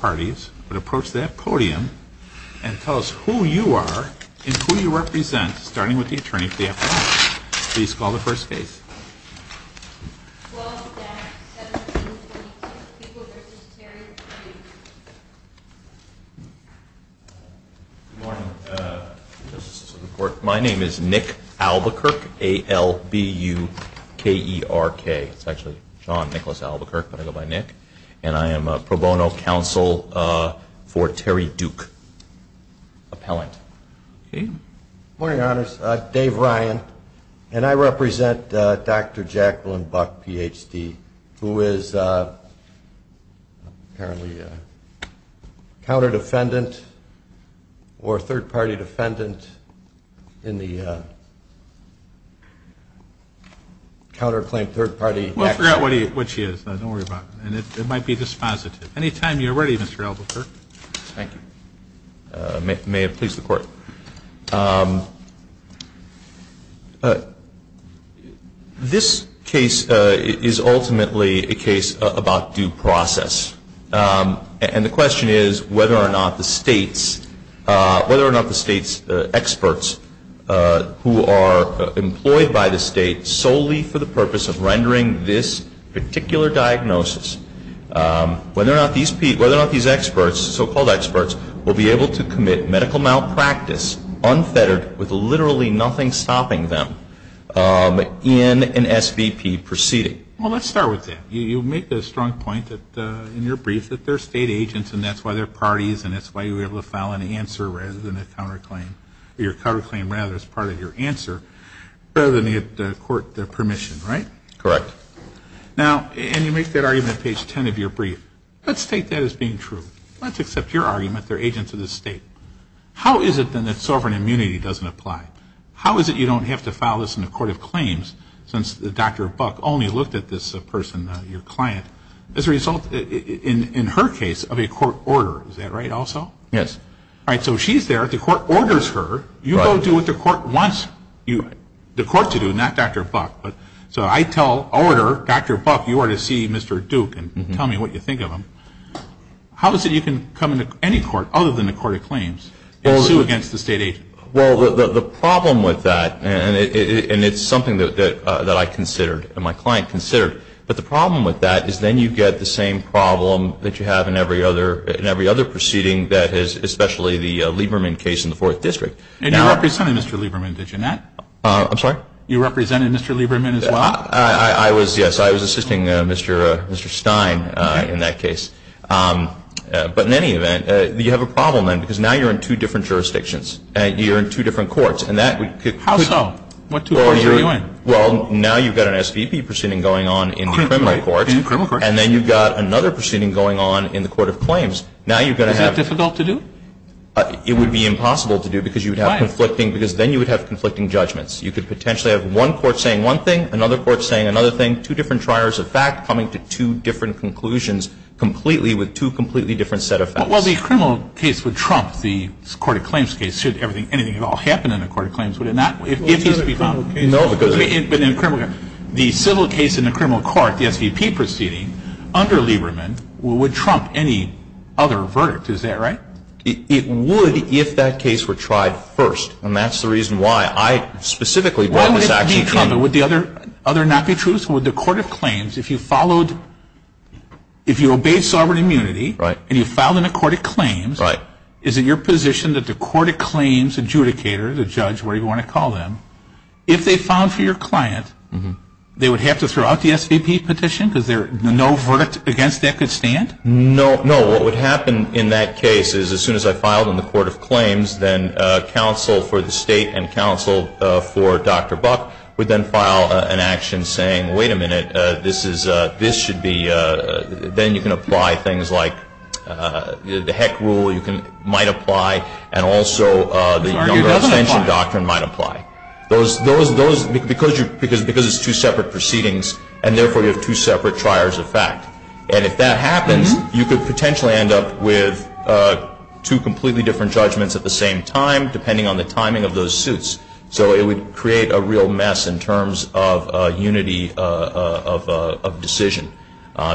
parties would approach that podium and tell us who you are and who you represent, starting with the attorney for the afternoon. Please call the first case. 12-DAC-1722, Peoples v. Terry. Good morning. My name is Nick Albuquerque, A-L-B-U-K-E-R-K. It's actually John Nicholas Albuquerque, but I go by Nick. And I am a pro bono counsel for Terry Duke appellant. Good morning, Your Honors. Dave Ryan. And I represent Dr. Jacqueline Buck, Ph.D., who is apparently a counter-defendant or third-party defendant in the counterclaim third-party action. We'll figure out what she is. Don't worry about it. And it might be dispositive. Any time you're ready, Mr. Albuquerque. Thank you. May it please the Court. This case is ultimately a case about due process. And the question is whether or not the State's experts who are employed by the State solely for the purpose of rendering this particular diagnosis, whether or not these experts, so-called experts, will be able to commit medical malpractice unfettered with literally nothing stopping them in an SVP proceeding. Well, let's start with that. You make the strong point in your brief that they're State agents and that's why they're parties and that's why you were able to file an answer rather than a counterclaim. Your counterclaim, rather, is part of your answer rather than the court permission, right? Correct. Now, and you make that argument on page 10 of your brief. Let's take that as being true. Let's accept your argument. They're agents of the State. How is it, then, that sovereign immunity doesn't apply? How is it you don't have to file this in the Court of Claims since Dr. Buck only looked at this person, your client, as a result, in her case, of a court order. Is that right also? Yes. All right. So she's there. The court orders her. You go do what the court wants the court to do, not Dr. Buck. So I tell order, Dr. Buck, you are to see Mr. Duke and tell me what you think of him. How is it you can come into any court other than the Court of Claims and sue against the State agent? Well, the problem with that, and it's something that I considered and my client considered, but the problem with that is then you get the same problem that you have in every other proceeding, especially the Lieberman case in the Fourth District. And you represented Mr. Lieberman, did you not? I'm sorry? You represented Mr. Lieberman as well? I was, yes. I was assisting Mr. Stein in that case. Okay. But in any event, you have a problem then because now you're in two different jurisdictions. You're in two different courts. How so? What two courts are you in? Well, now you've got an SVP proceeding going on in the criminal courts. In the criminal courts. And then you've got another proceeding going on in the Court of Claims. Now you're going to have to do. Is that difficult to do? It would be impossible to do because you would have conflicting, because then you would have conflicting judgments. You could potentially have one court saying one thing, another court saying another thing, two different triers of fact coming to two different conclusions completely with two completely different set of facts. Well, the criminal case would trump the Court of Claims case should everything, anything at all happen in the Court of Claims, would it not? Well, it's not a criminal case. No. But in a criminal case, the civil case in the criminal court, the SVP proceeding under Lieberman would trump any other verdict. Is that right? It would if that case were tried first. And that's the reason why I specifically brought this action. Would the other not be true? So would the Court of Claims, if you followed, if you obeyed sovereign immunity. Right. And you filed in the Court of Claims. Right. Is it your position that the Court of Claims adjudicator, the judge, whatever you want to call them, if they filed for your client, they would have to throw out the SVP petition because there's no verdict against that could stand? No. No, what would happen in that case is as soon as I filed in the Court of Claims, then counsel for the state and counsel for Dr. Buck would then file an action saying, wait a minute, this should be, then you can apply things like the Heck rule might apply and also the Younger Extension Doctrine might apply. Those, because it's two separate proceedings and therefore you have two separate triers of fact. And if that happens, you could potentially end up with two completely different judgments at the same time, depending on the timing of those suits. So it would create a real mess in terms of unity of decision.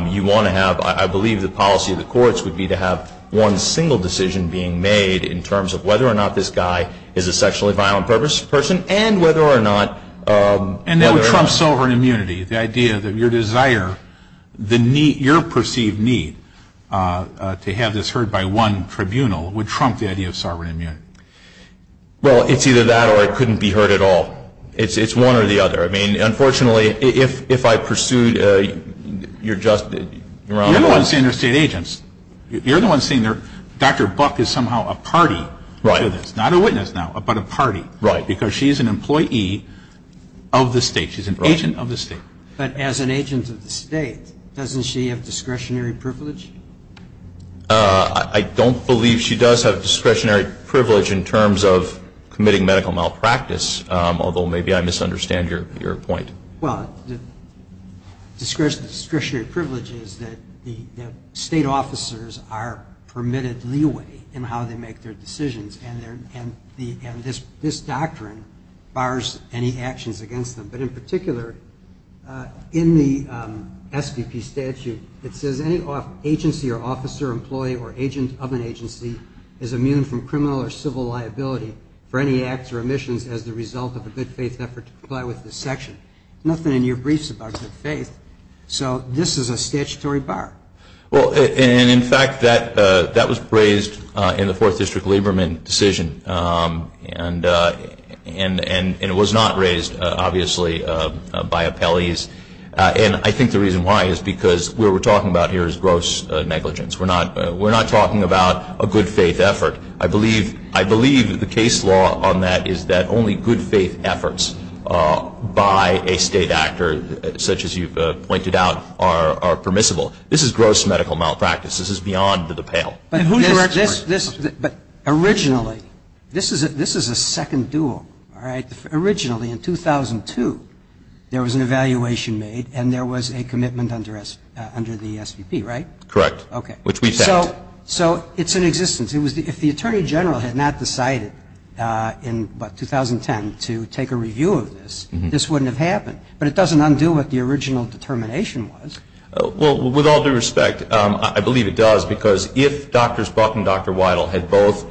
You want to have, I believe the policy of the courts would be to have one single decision being made in terms of whether or not this guy is a sexually violent person and whether or not. And that would trump sovereign immunity, the idea that your desire, your perceived need to have this heard by one tribunal would trump the idea of sovereign immunity. Well, it's either that or it couldn't be heard at all. It's one or the other. I mean, unfortunately, if I pursued, you're just. You're the one saying they're state agents. You're the one saying Dr. Buck is somehow a party to this, not a witness now, but a party. Right. Because she's an employee of the state. She's an agent of the state. But as an agent of the state, doesn't she have discretionary privilege? I don't believe she does have discretionary privilege in terms of committing medical malpractice, although maybe I misunderstand your point. Well, discretionary privilege is that the state officers are permitted leeway in how they make their decisions. And this doctrine bars any actions against them. But in particular, in the SVP statute, it says any agency or officer, employee, or agent of an agency is immune from criminal or civil liability for any acts or omissions as the result of a good faith effort to comply with this section. Nothing in your briefs about good faith. So this is a statutory bar. Well, and, in fact, that was raised in the Fourth District Lieberman decision. And it was not raised, obviously, by appellees. And I think the reason why is because what we're talking about here is gross negligence. We're not talking about a good faith effort. I believe the case law on that is that only good faith efforts by a state actor, such as you've pointed out, are permissible. This is gross medical malpractice. This is beyond the pale. But originally, this is a second duel, all right? Originally, in 2002, there was an evaluation made and there was a commitment under the SVP, right? Correct. Okay. Which we've said. So it's in existence. If the Attorney General had not decided in, what, 2010 to take a review of this, this wouldn't have happened. But it doesn't undo what the original determination was. Well, with all due respect, I believe it does, because if Drs. Buck and Dr. Weidel had both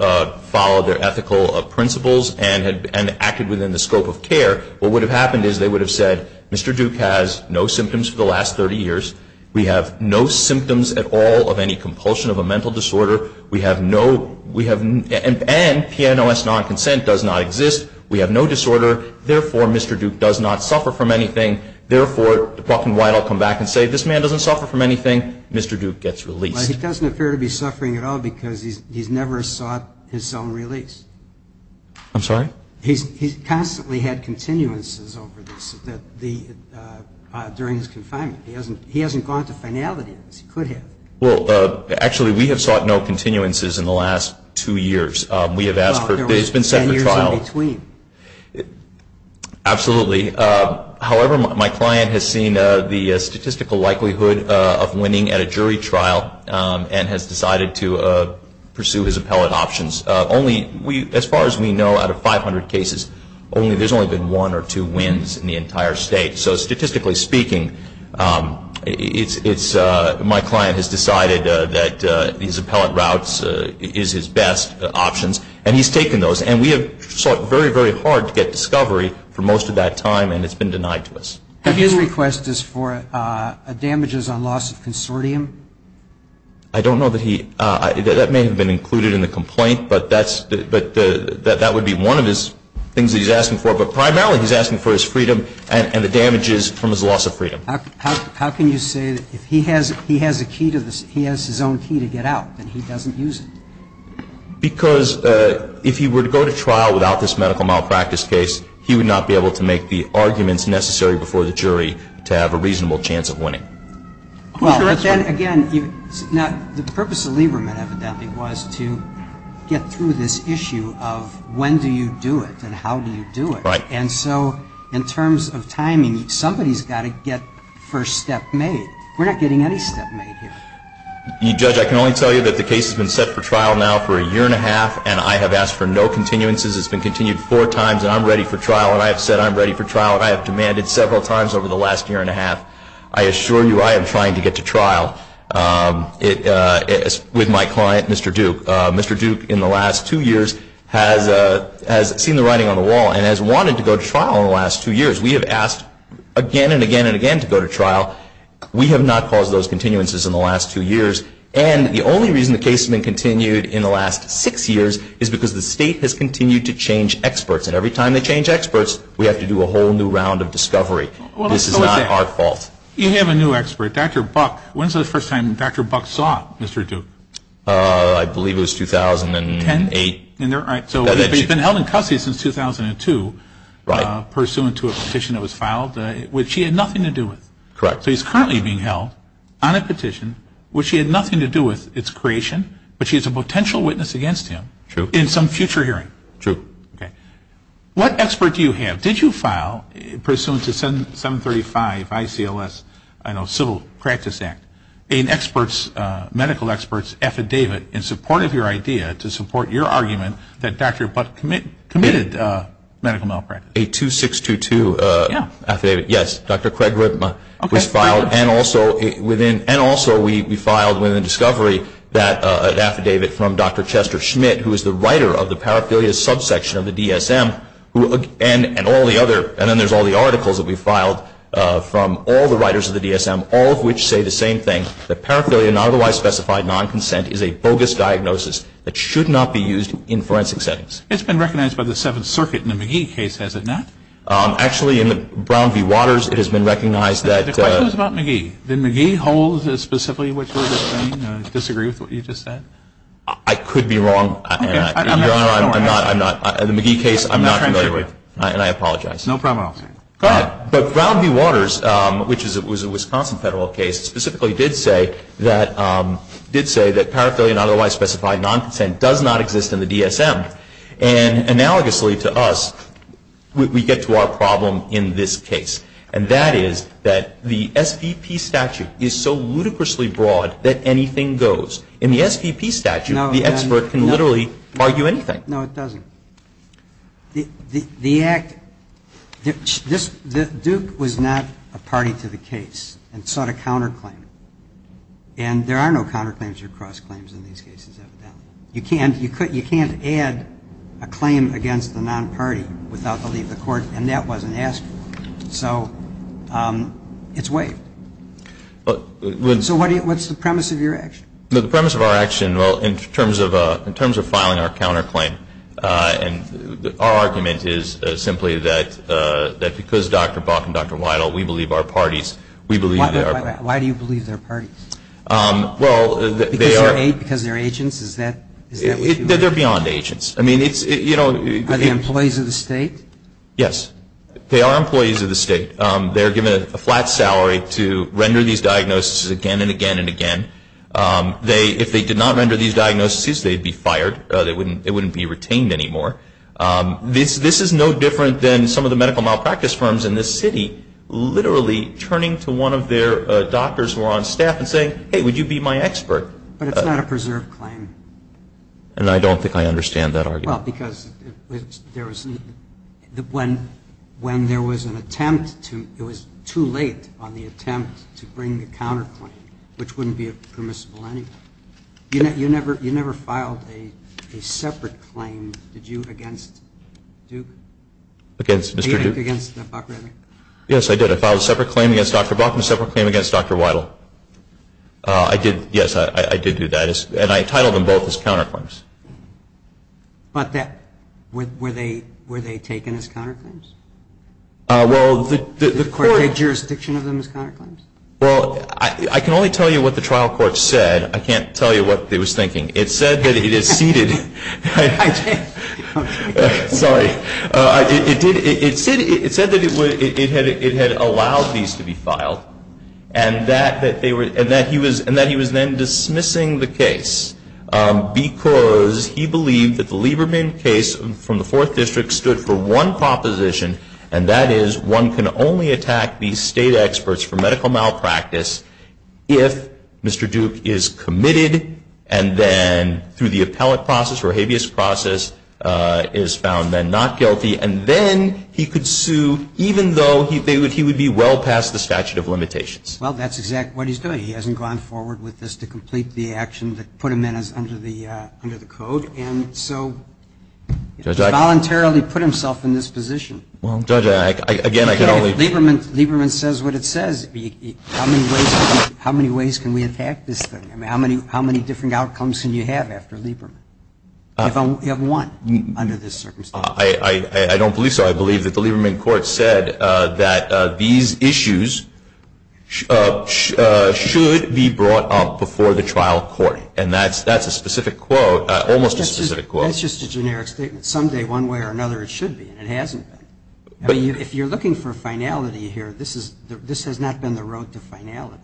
followed their ethical principles and acted within the scope of care, what would have happened is they would have said, Mr. Duke has no symptoms for the last 30 years. We have no symptoms at all of any compulsion of a mental disorder. And PNOS non-consent does not exist. We have no disorder. Therefore, Mr. Duke does not suffer from anything. Therefore, Buck and Weidel come back and say, this man doesn't suffer from anything. Mr. Duke gets released. Well, he doesn't appear to be suffering at all because he's never sought his own release. I'm sorry? He's constantly had continuances over this during his confinement. He hasn't gone to finality. He could have. Well, actually, we have sought no continuances in the last two years. We have asked for it. Well, there was ten years in between. Absolutely. However, my client has seen the statistical likelihood of winning at a jury trial and has decided to pursue his appellate options. As far as we know, out of 500 cases, there's only been one or two wins in the entire state. So statistically speaking, my client has decided that his appellate route is his best options, and he's taken those. And we have sought very, very hard to get discovery for most of that time, and it's been denied to us. His request is for damages on loss of consortium? I don't know that he – that may have been included in the complaint, but that would be one of the things that he's asking for. But primarily, he's asking for his freedom and the damages from his loss of freedom. How can you say that if he has a key to the – he has his own key to get out, then he doesn't use it? Because if he were to go to trial without this medical malpractice case, he would not be able to make the arguments necessary before the jury to have a reasonable chance of winning. Well, but then, again, the purpose of Lieberman, evidently, was to get through this issue of when do you do it and how do you do it. Right. And so in terms of timing, somebody's got to get first step made. We're not getting any step made here. Judge, I can only tell you that the case has been set for trial now for a year and a half, and I have asked for no continuances. It's been continued four times, and I'm ready for trial, and I have said I'm ready for trial, and I have demanded several times over the last year and a half. I assure you I am trying to get to trial with my client, Mr. Duke. Mr. Duke, in the last two years, has seen the writing on the wall and has wanted to go to trial in the last two years. We have asked again and again and again to go to trial. We have not caused those continuances in the last two years, and the only reason the case has been continued in the last six years is because the state has continued to change experts, and every time they change experts, we have to do a whole new round of discovery. This is not our fault. You have a new expert, Dr. Buck. When was the first time Dr. Buck saw Mr. Duke? I believe it was 2008. Correct. So he's currently being held on a petition which he had nothing to do with its creation, but she is a potential witness against him in some future hearing. True. What expert do you have? Did you file, pursuant to 735 ICLS, I know, Civil Practice Act, a medical expert's affidavit in support of your idea to support your argument that Dr. Buck committed medical malpractice? A 2622 affidavit. Yes, Dr. Craig Ripma was filed, and also we filed within the discovery that affidavit from Dr. Chester Schmidt, who is the writer of the paraphilia subsection of the DSM, and then there's all the articles that we filed from all the writers of the DSM, all of which say the same thing, that paraphilia, not otherwise specified non-consent, is a bogus diagnosis that should not be used in forensic settings. It's been recognized by the Seventh Circuit in the McGee case, has it not? Actually, in the Brown v. Waters, it has been recognized that... The question is about McGee. Did McGee hold specifically what you're saying, disagree with what you just said? I could be wrong. I'm not familiar with the McGee case, and I apologize. No problem. Go ahead. But Brown v. Waters, which was a Wisconsin federal case, specifically did say that paraphilia, not otherwise specified non-consent, does not exist in the DSM. And analogously to us, we get to our problem in this case, and that is that the SVP statute is so ludicrously broad that anything goes. In the SVP statute, the expert can literally argue anything. No, it doesn't. The act, Duke was not a party to the case and sought a counterclaim. And there are no counterclaims or cross-claims in these cases, evidently. You can't add a claim against the non-party without the leave of the court, and that wasn't asked for. So it's waived. So what's the premise of your action? The premise of our action, well, in terms of filing our counterclaim, our argument is simply that because Dr. Buck and Dr. Weidel, we believe they are parties. Why do you believe they're parties? Because they're agents? They're beyond agents. Are they employees of the state? Yes, they are employees of the state. They're given a flat salary to render these diagnoses again and again and again. If they did not render these diagnoses, they'd be fired. They wouldn't be retained anymore. This is no different than some of the medical malpractice firms in this city turning to one of their doctors who are on staff and saying, hey, would you be my expert? But it's not a preserved claim. And I don't think I understand that argument. Well, because when there was an attempt, it was too late on the attempt to bring the counterclaim, which wouldn't be permissible anyway. You never filed a separate claim, did you, against Duke? Against Mr. Duke? Against Buck, rather. Yes, I did. I filed a separate claim against Dr. Buck and a separate claim against Dr. Weidel. Yes, I did do that. And I entitled them both as counterclaims. But were they taken as counterclaims? Did the court take jurisdiction of them as counterclaims? Well, I can only tell you what the trial court said. I can't tell you what it was thinking. It said that it had allowed these to be filed and that he was then dismissing the case because he believed that the Lieberman case from the Fourth District stood for one proposition, and that is one can only attack these state experts for medical malpractice if Mr. Duke is committed and then through the appellate process or habeas process is found then not guilty and then he could sue even though he would be well past the statute of limitations. Well, that's exactly what he's doing. He hasn't gone forward with this to complete the action that put him under the code. And so he voluntarily put himself in this position. Well, Judge, again, I can only ---- Lieberman says what it says. How many ways can we attack this thing? I mean, how many different outcomes can you have after Lieberman? You have one under this circumstance. I don't believe so. I believe that the Lieberman court said that these issues should be brought up before the trial court, and that's a specific quote, almost a specific quote. That's just a generic statement. Someday, one way or another, it should be, and it hasn't been. If you're looking for finality here, this has not been the road to finality.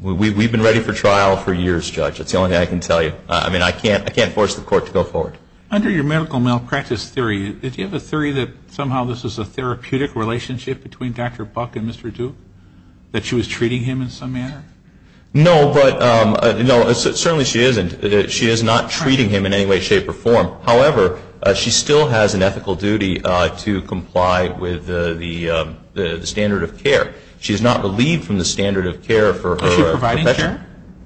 We've been ready for trial for years, Judge. That's the only thing I can tell you. I mean, I can't force the court to go forward. Under your medical malpractice theory, did you have a theory that somehow this was a therapeutic relationship between Dr. Buck and Mr. Duke, that she was treating him in some manner? No, but certainly she isn't. She is not treating him in any way, shape, or form. However, she still has an ethical duty to comply with the standard of care. She is not relieved from the standard of care for her profession.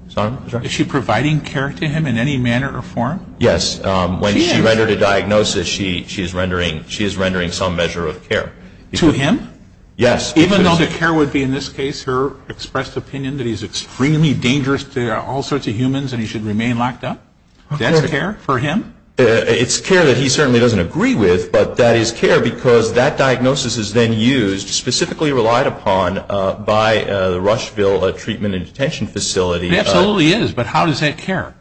Is she providing care? Sorry? Is she providing care to him in any manner or form? Yes. When she rendered a diagnosis, she is rendering some measure of care. To him? Yes. Even though the care would be, in this case, her expressed opinion that he's extremely dangerous to all sorts of humans and he should remain locked up? That's care for him? It's care that he certainly doesn't agree with, but that is care because that diagnosis is then used, specifically relied upon, by the Rushville Treatment and Detention Facility. It absolutely is, but how does that care?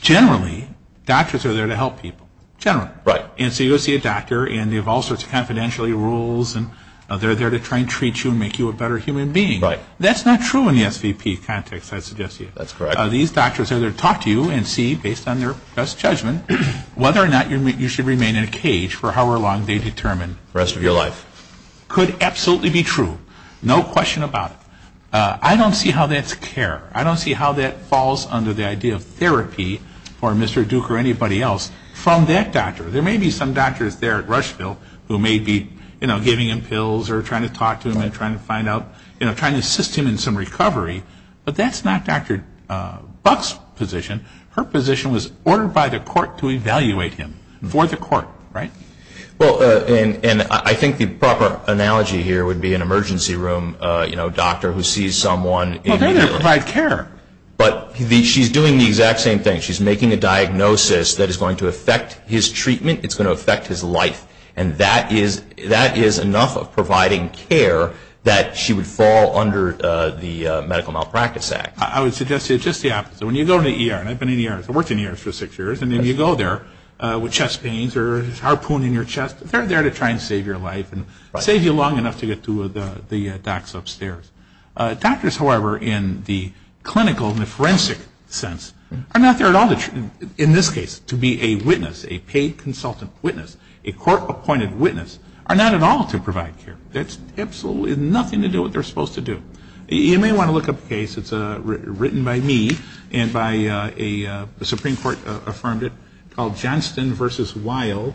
Generally, doctors are there to help people. Generally. Right. And so you go see a doctor and they have all sorts of confidentiality rules and they're there to try and treat you and make you a better human being. Right. That's not true in the SVP context, I suggest to you. That's correct. These doctors are there to talk to you and see, based on their best judgment, whether or not you should remain in a cage for however long they determine. The rest of your life. Could absolutely be true. No question about it. I don't see how that's care. I don't see how that falls under the idea of therapy for Mr. Duke or anybody else from that doctor. There may be some doctors there at Rushville who may be, you know, giving him pills or trying to talk to him and trying to find out, you know, trying to assist him in some recovery, but that's not Dr. Buck's position. Her position was ordered by the court to evaluate him for the court. Right? Well, and I think the proper analogy here would be an emergency room, you know, doctor who sees someone. Well, they're there to provide care. But she's doing the exact same thing. She's making a diagnosis that is going to affect his treatment. It's going to affect his life. And that is enough of providing care that she would fall under the Medical Malpractice Act. I would suggest to you just the opposite. So when you go to ER, and I've been in ERs, I worked in ERs for six years, and then you go there with chest pains or a harpoon in your chest, they're there to try and save your life and save you long enough to get to the docs upstairs. Doctors, however, in the clinical, in the forensic sense, are not there at all. In this case, to be a witness, a paid consultant witness, a court-appointed witness, are not at all to provide care. That's absolutely nothing to do with what they're supposed to do. You may want to look up a case that's written by me and by a Supreme Court-affirmed it called Johnston v. Weill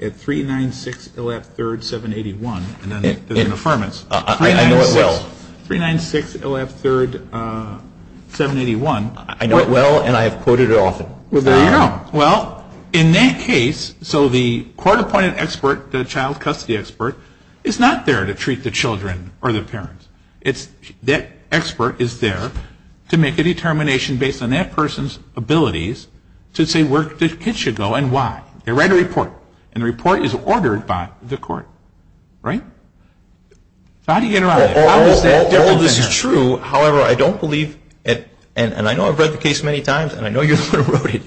at 396-0F3-781. And then there's an affirmance. I know it well. 396-0F3-781. I know it well, and I have quoted it often. Well, there you go. Well, in that case, so the court-appointed expert, the child custody expert, is not there to treat the children or the parents. That expert is there to make a determination based on that person's abilities to say where the kids should go and why. They write a report, and the report is ordered by the court. Right? So how do you get around that? How is that different than that? Well, this is true. However, I don't believe, and I know I've read the case many times, and I know you're the one who wrote it,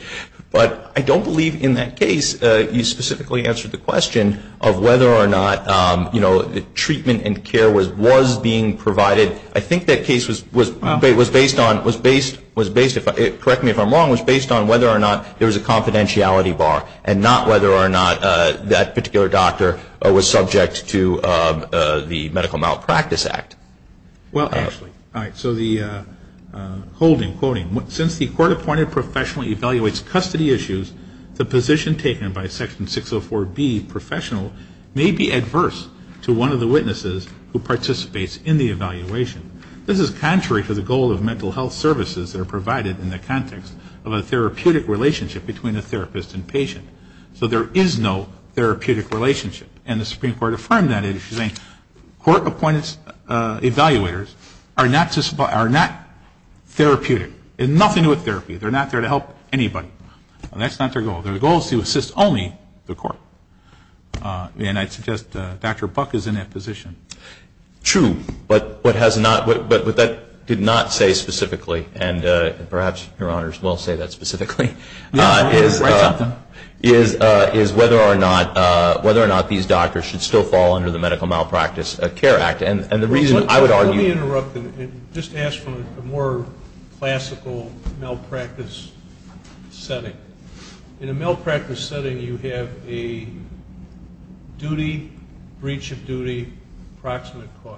but I don't believe in that case you specifically answered the question of whether or not, you know, treatment and care was being provided. I think that case was based on, correct me if I'm wrong, was based on whether or not there was a confidentiality bar and not whether or not that particular doctor was subject to the Medical Malpractice Act. Well, actually, all right, so the holding, quoting, since the court-appointed professional evaluates custody issues, the position taken by Section 604B professional may be adverse to one of the witnesses who participates in the evaluation. This is contrary to the goal of mental health services that are provided in the context of a therapeutic relationship between a therapist and patient. So there is no therapeutic relationship, and the Supreme Court affirmed that issue, saying court-appointed evaluators are not therapeutic. They have nothing to do with therapy. They're not there to help anybody. And that's not their goal. Their goal is to assist only the court. And I'd suggest Dr. Buck is in that position. True, but what that did not say specifically, and perhaps Your Honors will say that specifically, is whether or not these doctors should still fall under the Medical Malpractice Care Act. And the reason I would argue- Just ask from a more classical malpractice setting. In a malpractice setting, you have a duty, breach of duty, proximate cause.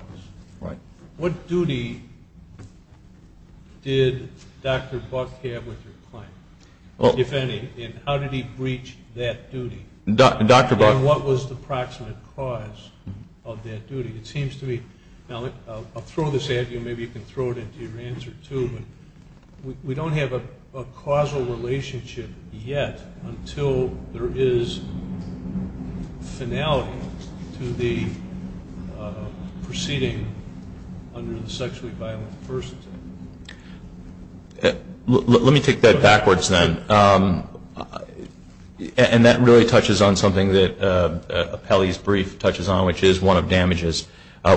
Right. What duty did Dr. Buck have with your client, if any, and how did he breach that duty? Dr. Buck- Now, I'll throw this at you. Maybe you can throw it into your answer, too. But we don't have a causal relationship yet until there is finality to the proceeding under the sexually violent person. Let me take that backwards, then. And that really touches on something that Apelli's brief touches on, which is one of damages.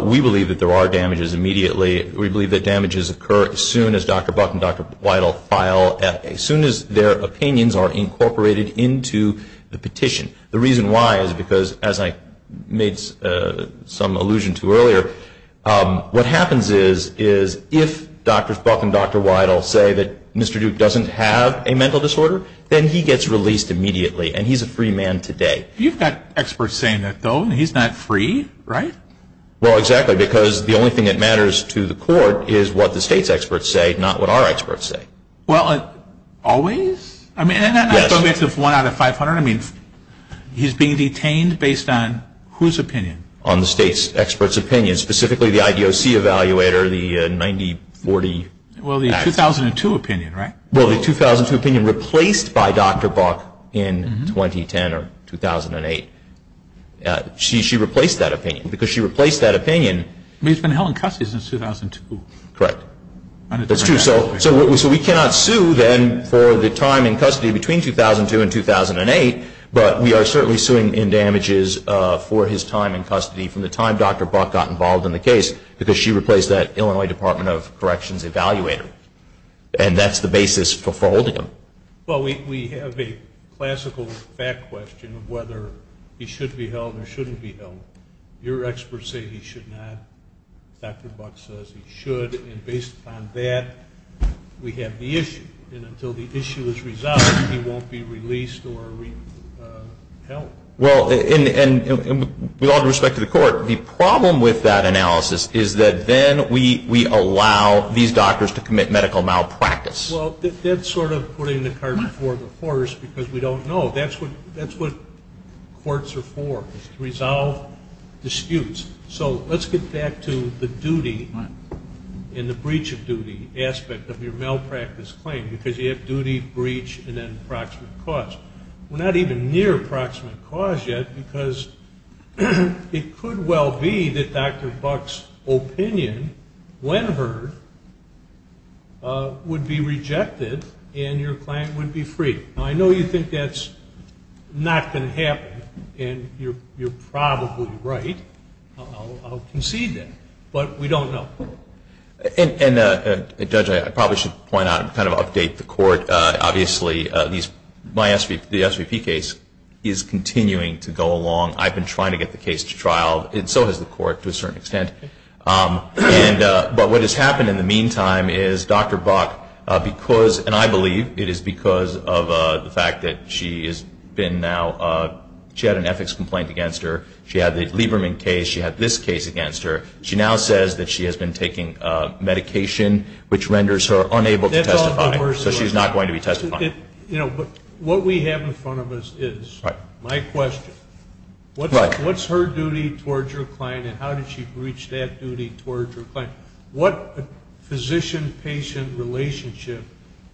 We believe that there are damages immediately. We believe that damages occur as soon as Dr. Buck and Dr. Weidel file, as soon as their opinions are incorporated into the petition. The reason why is because, as I made some allusion to earlier, what happens is, is if Dr. Buck and Dr. Weidel say that Mr. Duke doesn't have a mental disorder, then he gets released immediately, and he's a free man today. You've got experts saying that, though. He's not free, right? Well, exactly, because the only thing that matters to the court is what the state's experts say, not what our experts say. Well, always? I mean, and that's a mix of one out of 500. I mean, he's being detained based on whose opinion? On the state's experts' opinion, specifically the IDOC evaluator, the 90-40. Well, the 2002 opinion, right? Well, the 2002 opinion replaced by Dr. Buck in 2010 or 2008. She replaced that opinion, because she replaced that opinion. I mean, he's been held in custody since 2002. Correct. That's true. So we cannot sue, then, for the time in custody between 2002 and 2008, but we are certainly suing in damages for his time in custody from the time Dr. Buck got involved in the case, because she replaced that Illinois Department of Corrections evaluator. And that's the basis for holding him. Well, we have a classical fact question of whether he should be held or shouldn't be held. Your experts say he should not. Dr. Buck says he should. And based upon that, we have the issue. And until the issue is resolved, he won't be released or held. Well, and with all due respect to the Court, the problem with that analysis is that then we allow these doctors to commit medical malpractice. Well, that's sort of putting the cart before the horse, because we don't know. That's what courts are for, is to resolve disputes. So let's get back to the duty and the breach of duty aspect of your malpractice claim, because you have duty, breach, and then approximate cause. We're not even near approximate cause yet, because it could well be that Dr. Buck's opinion, when heard, would be rejected and your client would be freed. Now, I know you think that's not going to happen, and you're probably right. I'll concede that. But we don't know. And, Judge, I probably should point out and kind of update the Court. Obviously, the SVP case is continuing to go along. I've been trying to get the case to trial, and so has the Court to a certain extent. But what has happened in the meantime is Dr. Buck, and I believe it is because of the fact that she had an ethics complaint against her. She had the Lieberman case. She had this case against her. She now says that she has been taking medication, which renders her unable to testify. So she's not going to be testifying. But what we have in front of us is my question. What's her duty towards her client, and how did she breach that duty towards her client? What physician-patient relationship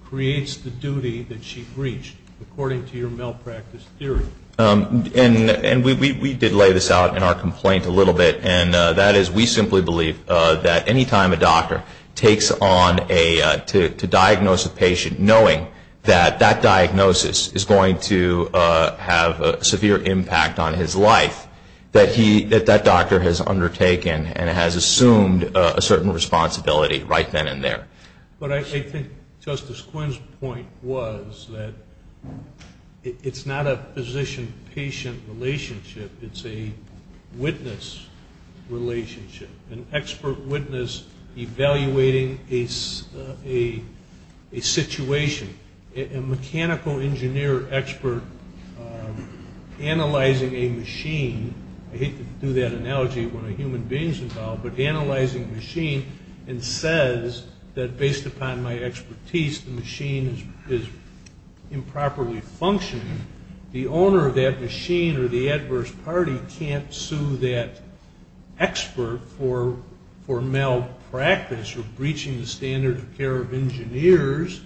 creates the duty that she breached, according to your malpractice theory? And we did lay this out in our complaint a little bit, and that is we simply believe that any time a doctor takes on to diagnose a patient, knowing that that diagnosis is going to have a severe impact on his life, that that doctor has undertaken and has assumed a certain responsibility right then and there. But I think Justice Quinn's point was that it's not a physician-patient relationship. It's a witness relationship, an expert witness evaluating a situation, a mechanical engineer expert analyzing a machine. I hate to do that analogy when a human being's involved, but analyzing a machine and says that, based upon my expertise, the machine is improperly functioning. The owner of that machine or the adverse party can't sue that expert for malpractice or breaching the standard of care of engineers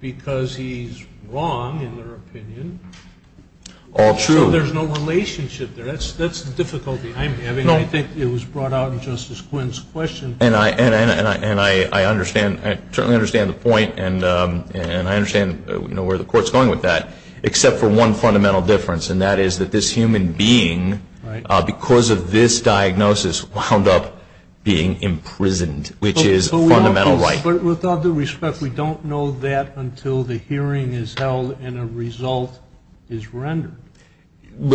because he's wrong, in their opinion. All true. So there's no relationship there. That's the difficulty I'm having. I think it was brought out in Justice Quinn's question. And I understand. I certainly understand the point, and I understand where the Court's going with that. Except for one fundamental difference, and that is that this human being, because of this diagnosis, wound up being imprisoned, which is a fundamental right. But with all due respect, we don't know that until the hearing is held and a result is rendered.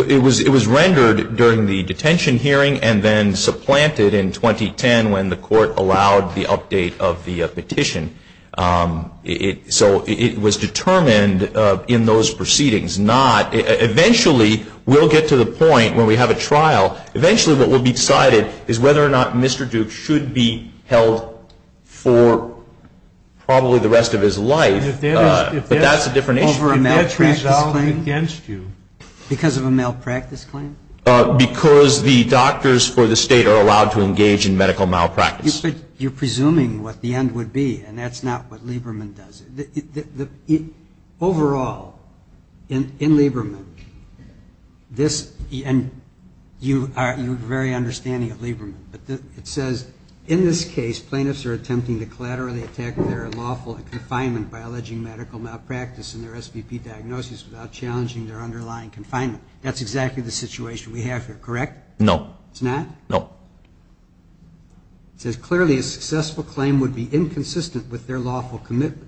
It was rendered during the detention hearing and then supplanted in 2010 when the Court allowed the update of the petition. So it was determined in those proceedings not – eventually we'll get to the point where we have a trial. Eventually what will be decided is whether or not Mr. Duke should be held for probably the rest of his life. But that's a different issue. Over a malpractice claim? If that's resolved against you. Because of a malpractice claim? Because the doctors for the State are allowed to engage in medical malpractice. But you're presuming what the end would be, and that's not what Lieberman does. Overall, in Lieberman, this – and you're very understanding of Lieberman. But it says, in this case, plaintiffs are attempting to collaterally attack their lawful confinement by alleging medical malpractice in their SVP diagnosis without challenging their underlying confinement. That's exactly the situation we have here, correct? No. It's not? No. It says, clearly a successful claim would be inconsistent with their lawful commitments.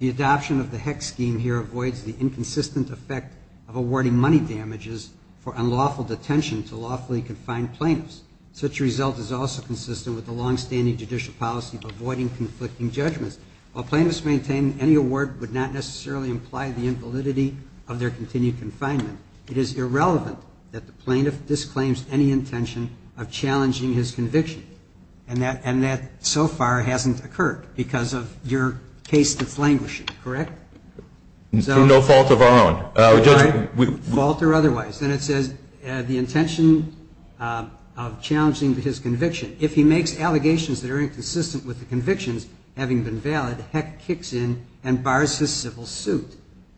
The adoption of the HECS scheme here avoids the inconsistent effect of awarding money damages for unlawful detention to lawfully confined plaintiffs. Such a result is also consistent with the longstanding judicial policy of avoiding conflicting judgments. While plaintiffs maintain any award would not necessarily imply the invalidity of their continued confinement, it is irrelevant that the plaintiff disclaims any intention of challenging his conviction. And that so far hasn't occurred because of your case deflanguishing, correct? No fault of our own. Fault or otherwise. And it says, the intention of challenging his conviction, if he makes allegations that are inconsistent with the convictions having been valid, HECS kicks in and bars his civil suit.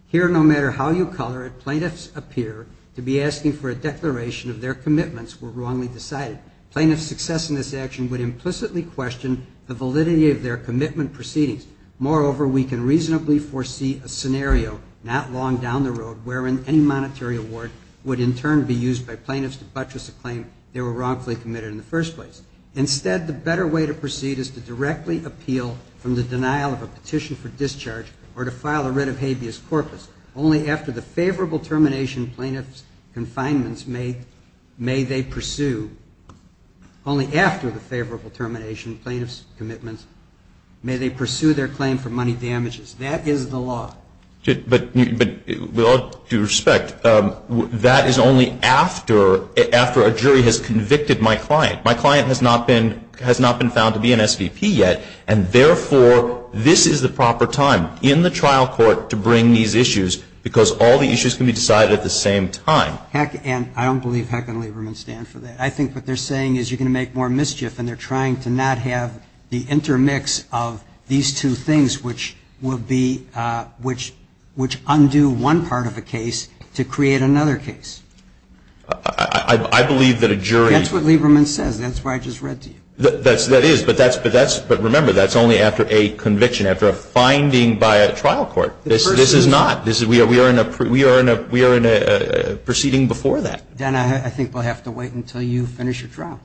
Here, no matter how you color it, plaintiffs appear to be asking for a declaration of their commitments were wrongly decided. Plaintiffs' success in this action would implicitly question the validity of their commitment proceedings. Moreover, we can reasonably foresee a scenario not long down the road wherein any monetary award would in turn be used by plaintiffs to buttress a claim they were wrongfully committed in the first place. Instead, the better way to proceed is to directly appeal from the denial of a petition for discharge or to file a writ of only after the favorable termination plaintiff's confinements may they pursue, only after the favorable termination plaintiff's commitments, may they pursue their claim for money damages. That is the law. But with all due respect, that is only after a jury has convicted my client. My client has not been found to be an SVP yet, and therefore, this is the proper time in the trial court to bring these issues, because all the issues can be decided at the same time. And I don't believe HEC and Lieberman stand for that. I think what they're saying is you're going to make more mischief, and they're trying to not have the intermix of these two things, which will be, which undo one part of a case to create another case. I believe that a jury. That's what Lieberman says. That's what I just read to you. That is. But remember, that's only after a conviction, after a finding by a trial court. This is not. We are in a proceeding before that. Dan, I think we'll have to wait until you finish your trial.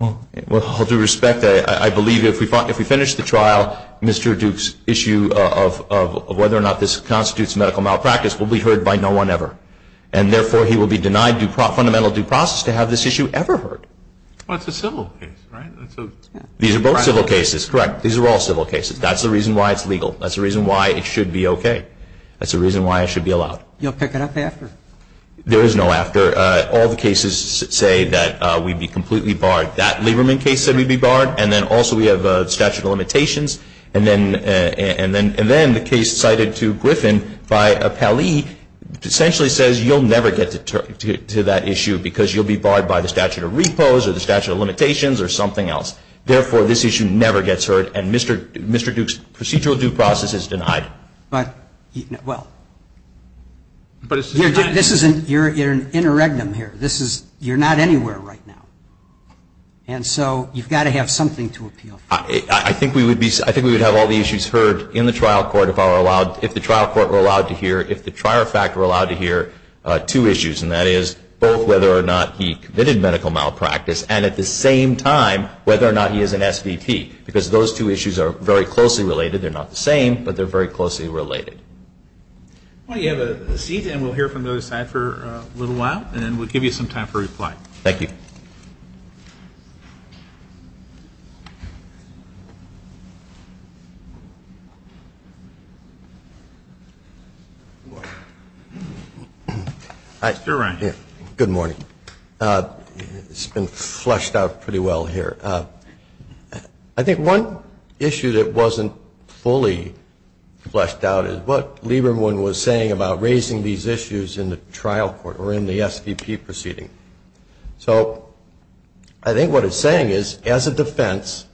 Well, all due respect, I believe if we finish the trial, Mr. Duke's issue of whether or not this constitutes medical malpractice will be heard by no one ever. And therefore, he will be denied fundamental due process to have this issue ever heard. Well, that's a civil case, right? These are both civil cases. Correct. These are all civil cases. That's the reason why it's legal. That's the reason why it should be okay. That's the reason why it should be allowed. You'll pick it up after. There is no after. All the cases say that we'd be completely barred. That Lieberman case said we'd be barred. And then also we have statute of limitations. And then the case cited to Griffin by Pally essentially says you'll never get to that issue because you'll be barred by the statute of repose or the statute of limitations or something else. Therefore, this issue never gets heard, and Mr. Duke's procedural due process is denied. But, well, you're in a regnum here. You're not anywhere right now. And so you've got to have something to appeal for. I think we would have all the issues heard in the trial court if the trial court were allowed to hear, if the trier of fact were allowed to hear two issues, and that is both whether or not he committed medical malpractice, and at the same time whether or not he is an SVP, because those two issues are very closely related. They're not the same, but they're very closely related. Why don't you have a seat, and we'll hear from the other side for a little while, and then we'll give you some time for reply. Thank you. Mr. Ryan. Good morning. It's been fleshed out pretty well here. I think one issue that wasn't fully fleshed out is what Lieberman was saying about raising these issues in the trial court or in the SVP proceeding. So, I think what he's saying is as a defense,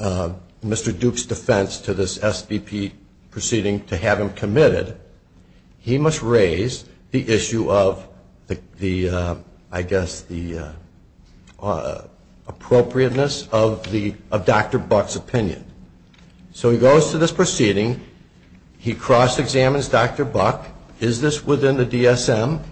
Mr. Duke's defense to this SVP proceeding to have him committed, he must raise the issue of the, I guess, appropriateness of Dr. Buck's opinion. So he goes to this proceeding. He cross-examines Dr. Buck. Is this within the DSM?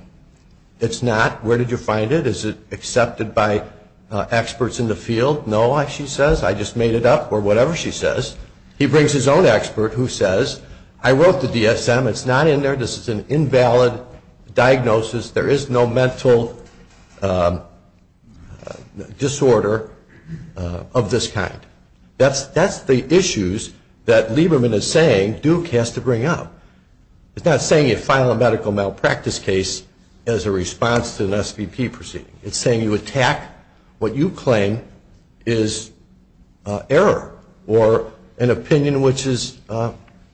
It's not. Where did you find it? Is it accepted by experts in the field? No, she says. I just made it up or whatever she says. He brings his own expert who says, I wrote the DSM. It's not in there. This is an invalid diagnosis. There is no mental disorder of this kind. That's the issues that Lieberman is saying Duke has to bring up. It's not saying you file a medical malpractice case as a response to an SVP proceeding. It's saying you attack what you claim is error or an opinion which is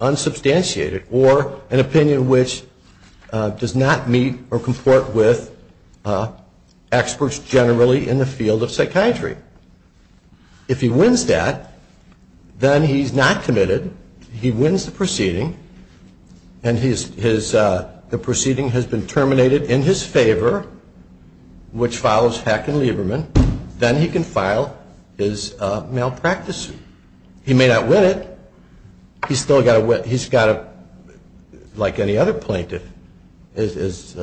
unsubstantiated or an opinion which does not meet or comport with experts generally in the field of psychiatry. If he wins that, then he's not committed. He wins the proceeding, and the proceeding has been terminated in his favor, which follows Hack and Lieberman. Then he can file his malpractice suit. He may not win it. He's still got to, like any other plaintiff, as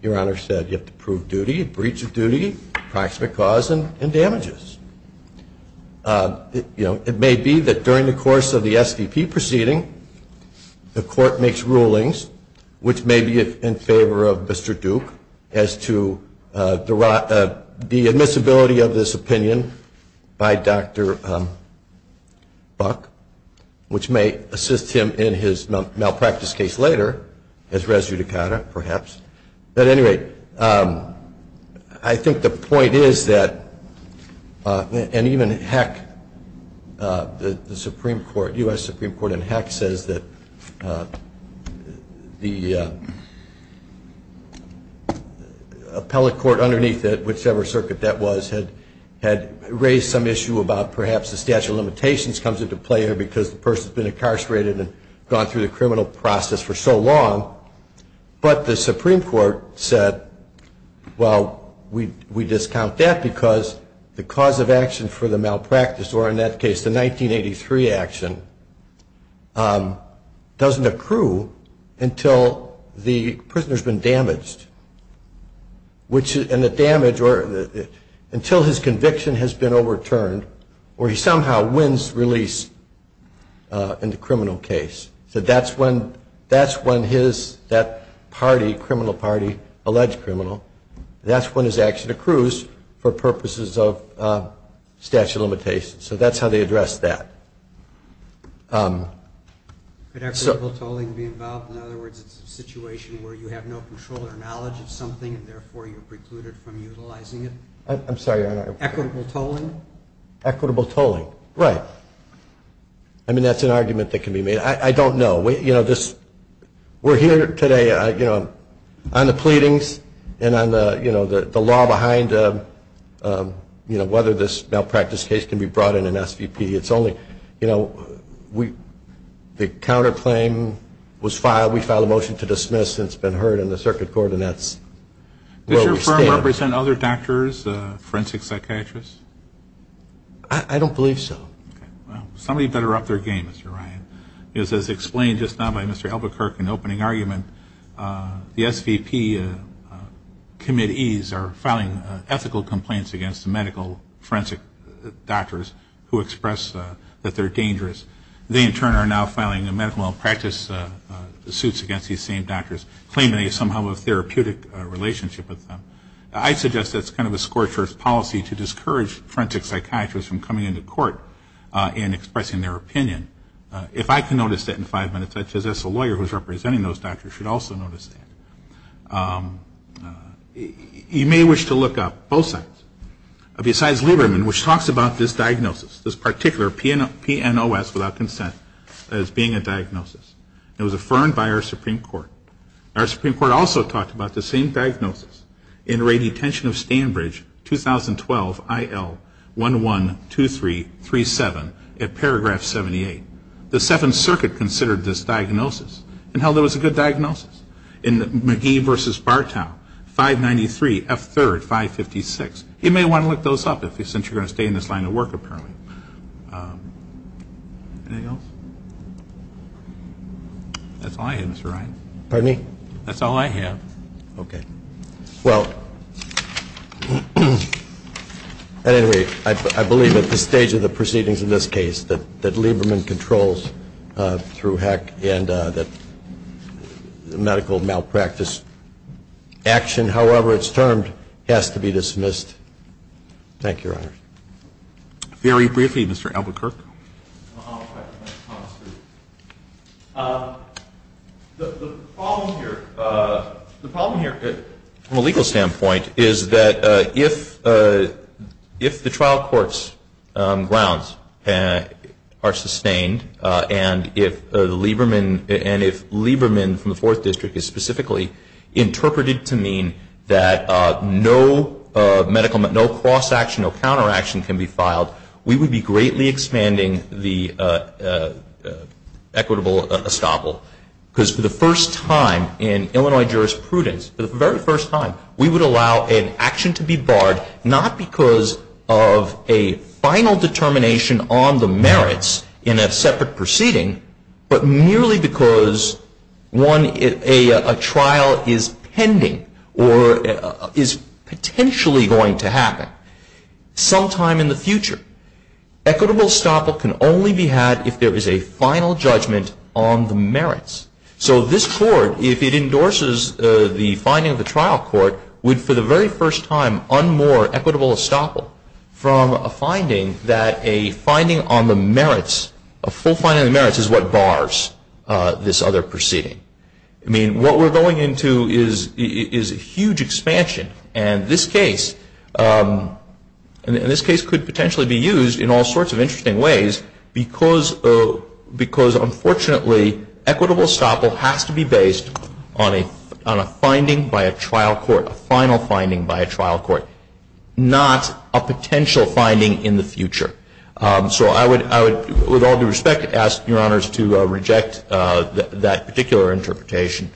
Your Honor said, you have to prove duty, breach of duty, proximate cause, and damages. You know, it may be that during the course of the SVP proceeding, the court makes rulings which may be in favor of Mr. Duke as to the admissibility of this opinion by Dr. Buck, which may assist him in his malpractice case later as res judicata perhaps. But anyway, I think the point is that, and even Hack, the Supreme Court, U.S. Supreme Court, and Hack says that the appellate court underneath it, whichever circuit that was, had raised some issue about perhaps the statute of limitations comes into play here because the person's been incarcerated and gone through the criminal process for so long. But the Supreme Court said, well, we discount that because the cause of action for the malpractice, or in that case the 1983 action, doesn't accrue until the prisoner's been damaged. And the damage, or until his conviction has been overturned or he somehow wins release in the criminal case. So that's when his, that party, criminal party, alleged criminal, that's when his action accrues for purposes of statute of limitations. So that's how they address that. Could equitable tolling be involved? In other words, it's a situation where you have no control or knowledge of something and therefore you're precluded from utilizing it? I'm sorry, Your Honor. Equitable tolling? Equitable tolling, right. I mean, that's an argument that can be made. I don't know. You know, this, we're here today, you know, on the pleadings and on the, you know, the law behind, you know, whether this malpractice case can be brought in an SVP. It's only, you know, we, the counterclaim was filed. We filed a motion to dismiss. It's been heard in the circuit court and that's where we stand. Does your firm represent other doctors, forensic psychiatrists? I don't believe so. Okay. Well, somebody better up their game, Mr. Ryan, because as explained just now by Mr. Albuquerque in the opening argument, the SVP committees are filing ethical complaints against the medical forensic doctors who express that they're dangerous. They, in turn, are now filing medical malpractice suits against these same doctors, claiming they somehow have a therapeutic relationship with them. I suggest that's kind of a scorcher's policy to discourage forensic psychiatrists from coming into court and expressing their opinion. If I can notice that in five minutes, I suppose as a lawyer who's representing those doctors should also notice that. You may wish to look up both sides. Besides Lieberman, which talks about this diagnosis, this particular PNOS without consent, as being a diagnosis, it was affirmed by our Supreme Court. Our Supreme Court also talked about the same diagnosis in Radiation Tension of Stanbridge, 2012, IL112337, at paragraph 78. The Seventh Circuit considered this diagnosis and held it was a good diagnosis. In McGee v. Bartow, 593, F3, 556. You may want to look those up, since you're going to stay in this line of work, apparently. Anything else? That's all I have, Mr. Ryan. Pardon me? That's all I have. Okay. Well, at any rate, I believe at this stage of the proceedings in this case that Lieberman controls through heck and that medical malpractice action, however it's termed, has to be dismissed. Thank you, Your Honor. Very briefly, Mr. Albuquerque. The problem here, from a legal standpoint, is that if the trial court's grounds are sustained and if Lieberman from the Fourth District is specifically interpreted to mean that no cross-action or counteraction can be filed, we would be greatly expanding the equitable estoppel. Because for the first time in Illinois jurisprudence, for the very first time, we would allow an action to be barred not because of a final determination on the merits in a separate proceeding, but merely because a trial is pending or is potentially going to happen sometime in the future. Equitable estoppel can only be had if there is a final judgment on the merits. So this Court, if it endorses the finding of the trial court, would for the very first time unmoor equitable estoppel from a finding that a finding on the merits, a full finding on the merits is what bars this other proceeding. I mean, what we're going into is a huge expansion. And this case could potentially be used in all sorts of interesting ways because unfortunately equitable estoppel has to be based on a finding by a trial court, a final finding by a trial court, not a potential finding in the future. So I would, with all due respect, ask Your Honors to reject that particular interpretation.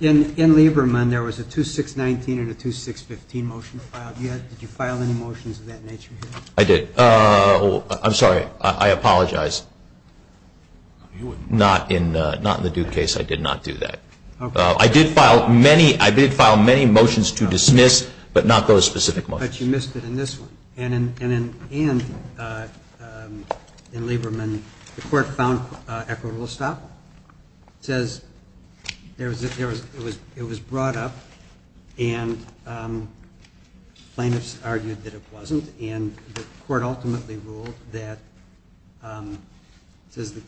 In Lieberman, there was a 2619 and a 2615 motion filed. Did you file any motions of that nature here? I did. I'm sorry. I apologize. Not in the Duke case. I did not do that. I did file many motions to dismiss, but not those specific motions. But you missed it in this one. And in Lieberman, the court found equitable estoppel. It says it was brought up and plaintiffs argued that it wasn't. And the court ultimately ruled that it says the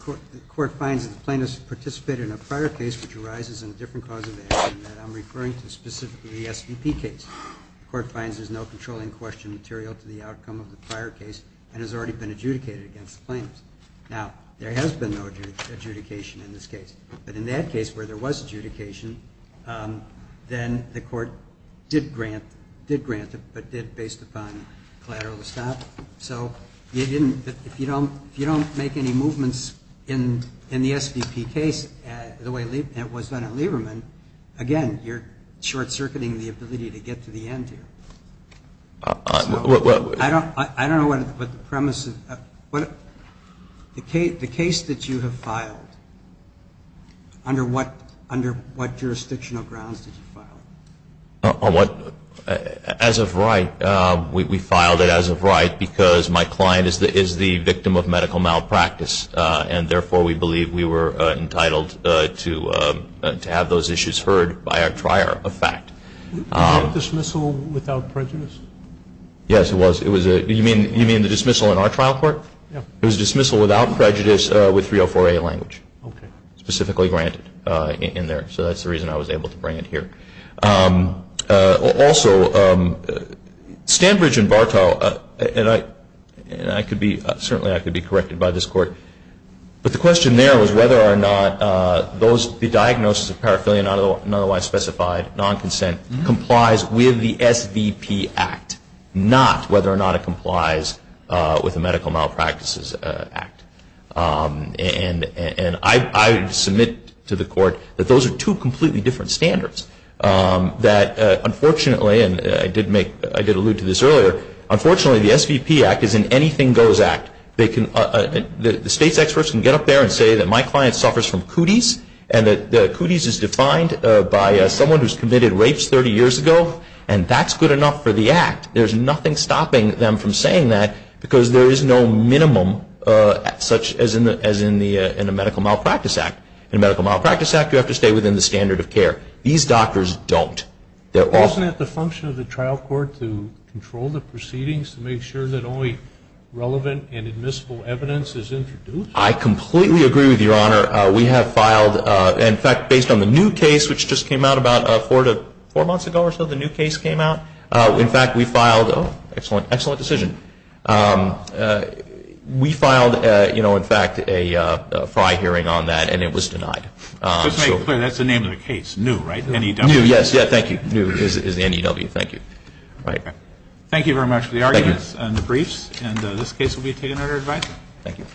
court finds that the plaintiffs participated in a prior case which arises in a different cause of action that I'm referring to specifically the SVP case. The court finds there's no controlling question material to the outcome of the prior case and has already been adjudicated against the plaintiffs. Now, there has been no adjudication in this case. But in that case where there was adjudication, then the court did grant it, but did based upon collateral estoppel. So if you don't make any movements in the SVP case the way it was done in Lieberman, again, you're short-circuiting the ability to get to the end here. I don't know what the premise is. The case that you have filed, under what jurisdictional grounds did you file it? As of right, we filed it as of right because my client is the victim of medical malpractice, and therefore we believe we were entitled to have those issues heard by a trier of fact. Was that a dismissal without prejudice? Yes, it was. You mean the dismissal in our trial court? Yes. It was a dismissal without prejudice with 304A language, specifically granted in there. So that's the reason I was able to bring it here. Also, Stanbridge and Bartow, and certainly I could be corrected by this court, but the question there was whether or not the diagnosis of paraphernalia, not otherwise specified, non-consent, complies with the SVP Act, not whether or not it complies with the Medical Malpractices Act. And I submit to the court that those are two completely different standards, that unfortunately, and I did allude to this earlier, unfortunately the SVP Act is an anything-goes act. The state's experts can get up there and say that my client suffers from cooties, and that cooties is defined by someone who's committed rapes 30 years ago, and that's good enough for the act. There's nothing stopping them from saying that because there is no minimum such as in the Medical Malpractice Act. In the Medical Malpractice Act, you have to stay within the standard of care. These doctors don't. Isn't it the function of the trial court to control the proceedings, to make sure that only relevant and admissible evidence is introduced? I completely agree with Your Honor. We have filed, in fact, based on the new case which just came out about four months ago or so, the new case came out. In fact, we filed, oh, excellent decision. We filed, you know, in fact, a F.R.I. hearing on that, and it was denied. Just to make clear, that's the name of the case, New, right? New, yes. Thank you. New is the N.E.W. Thank you. Thank you very much for the arguments and the briefs, and this case will be taken under advisory. Thank you.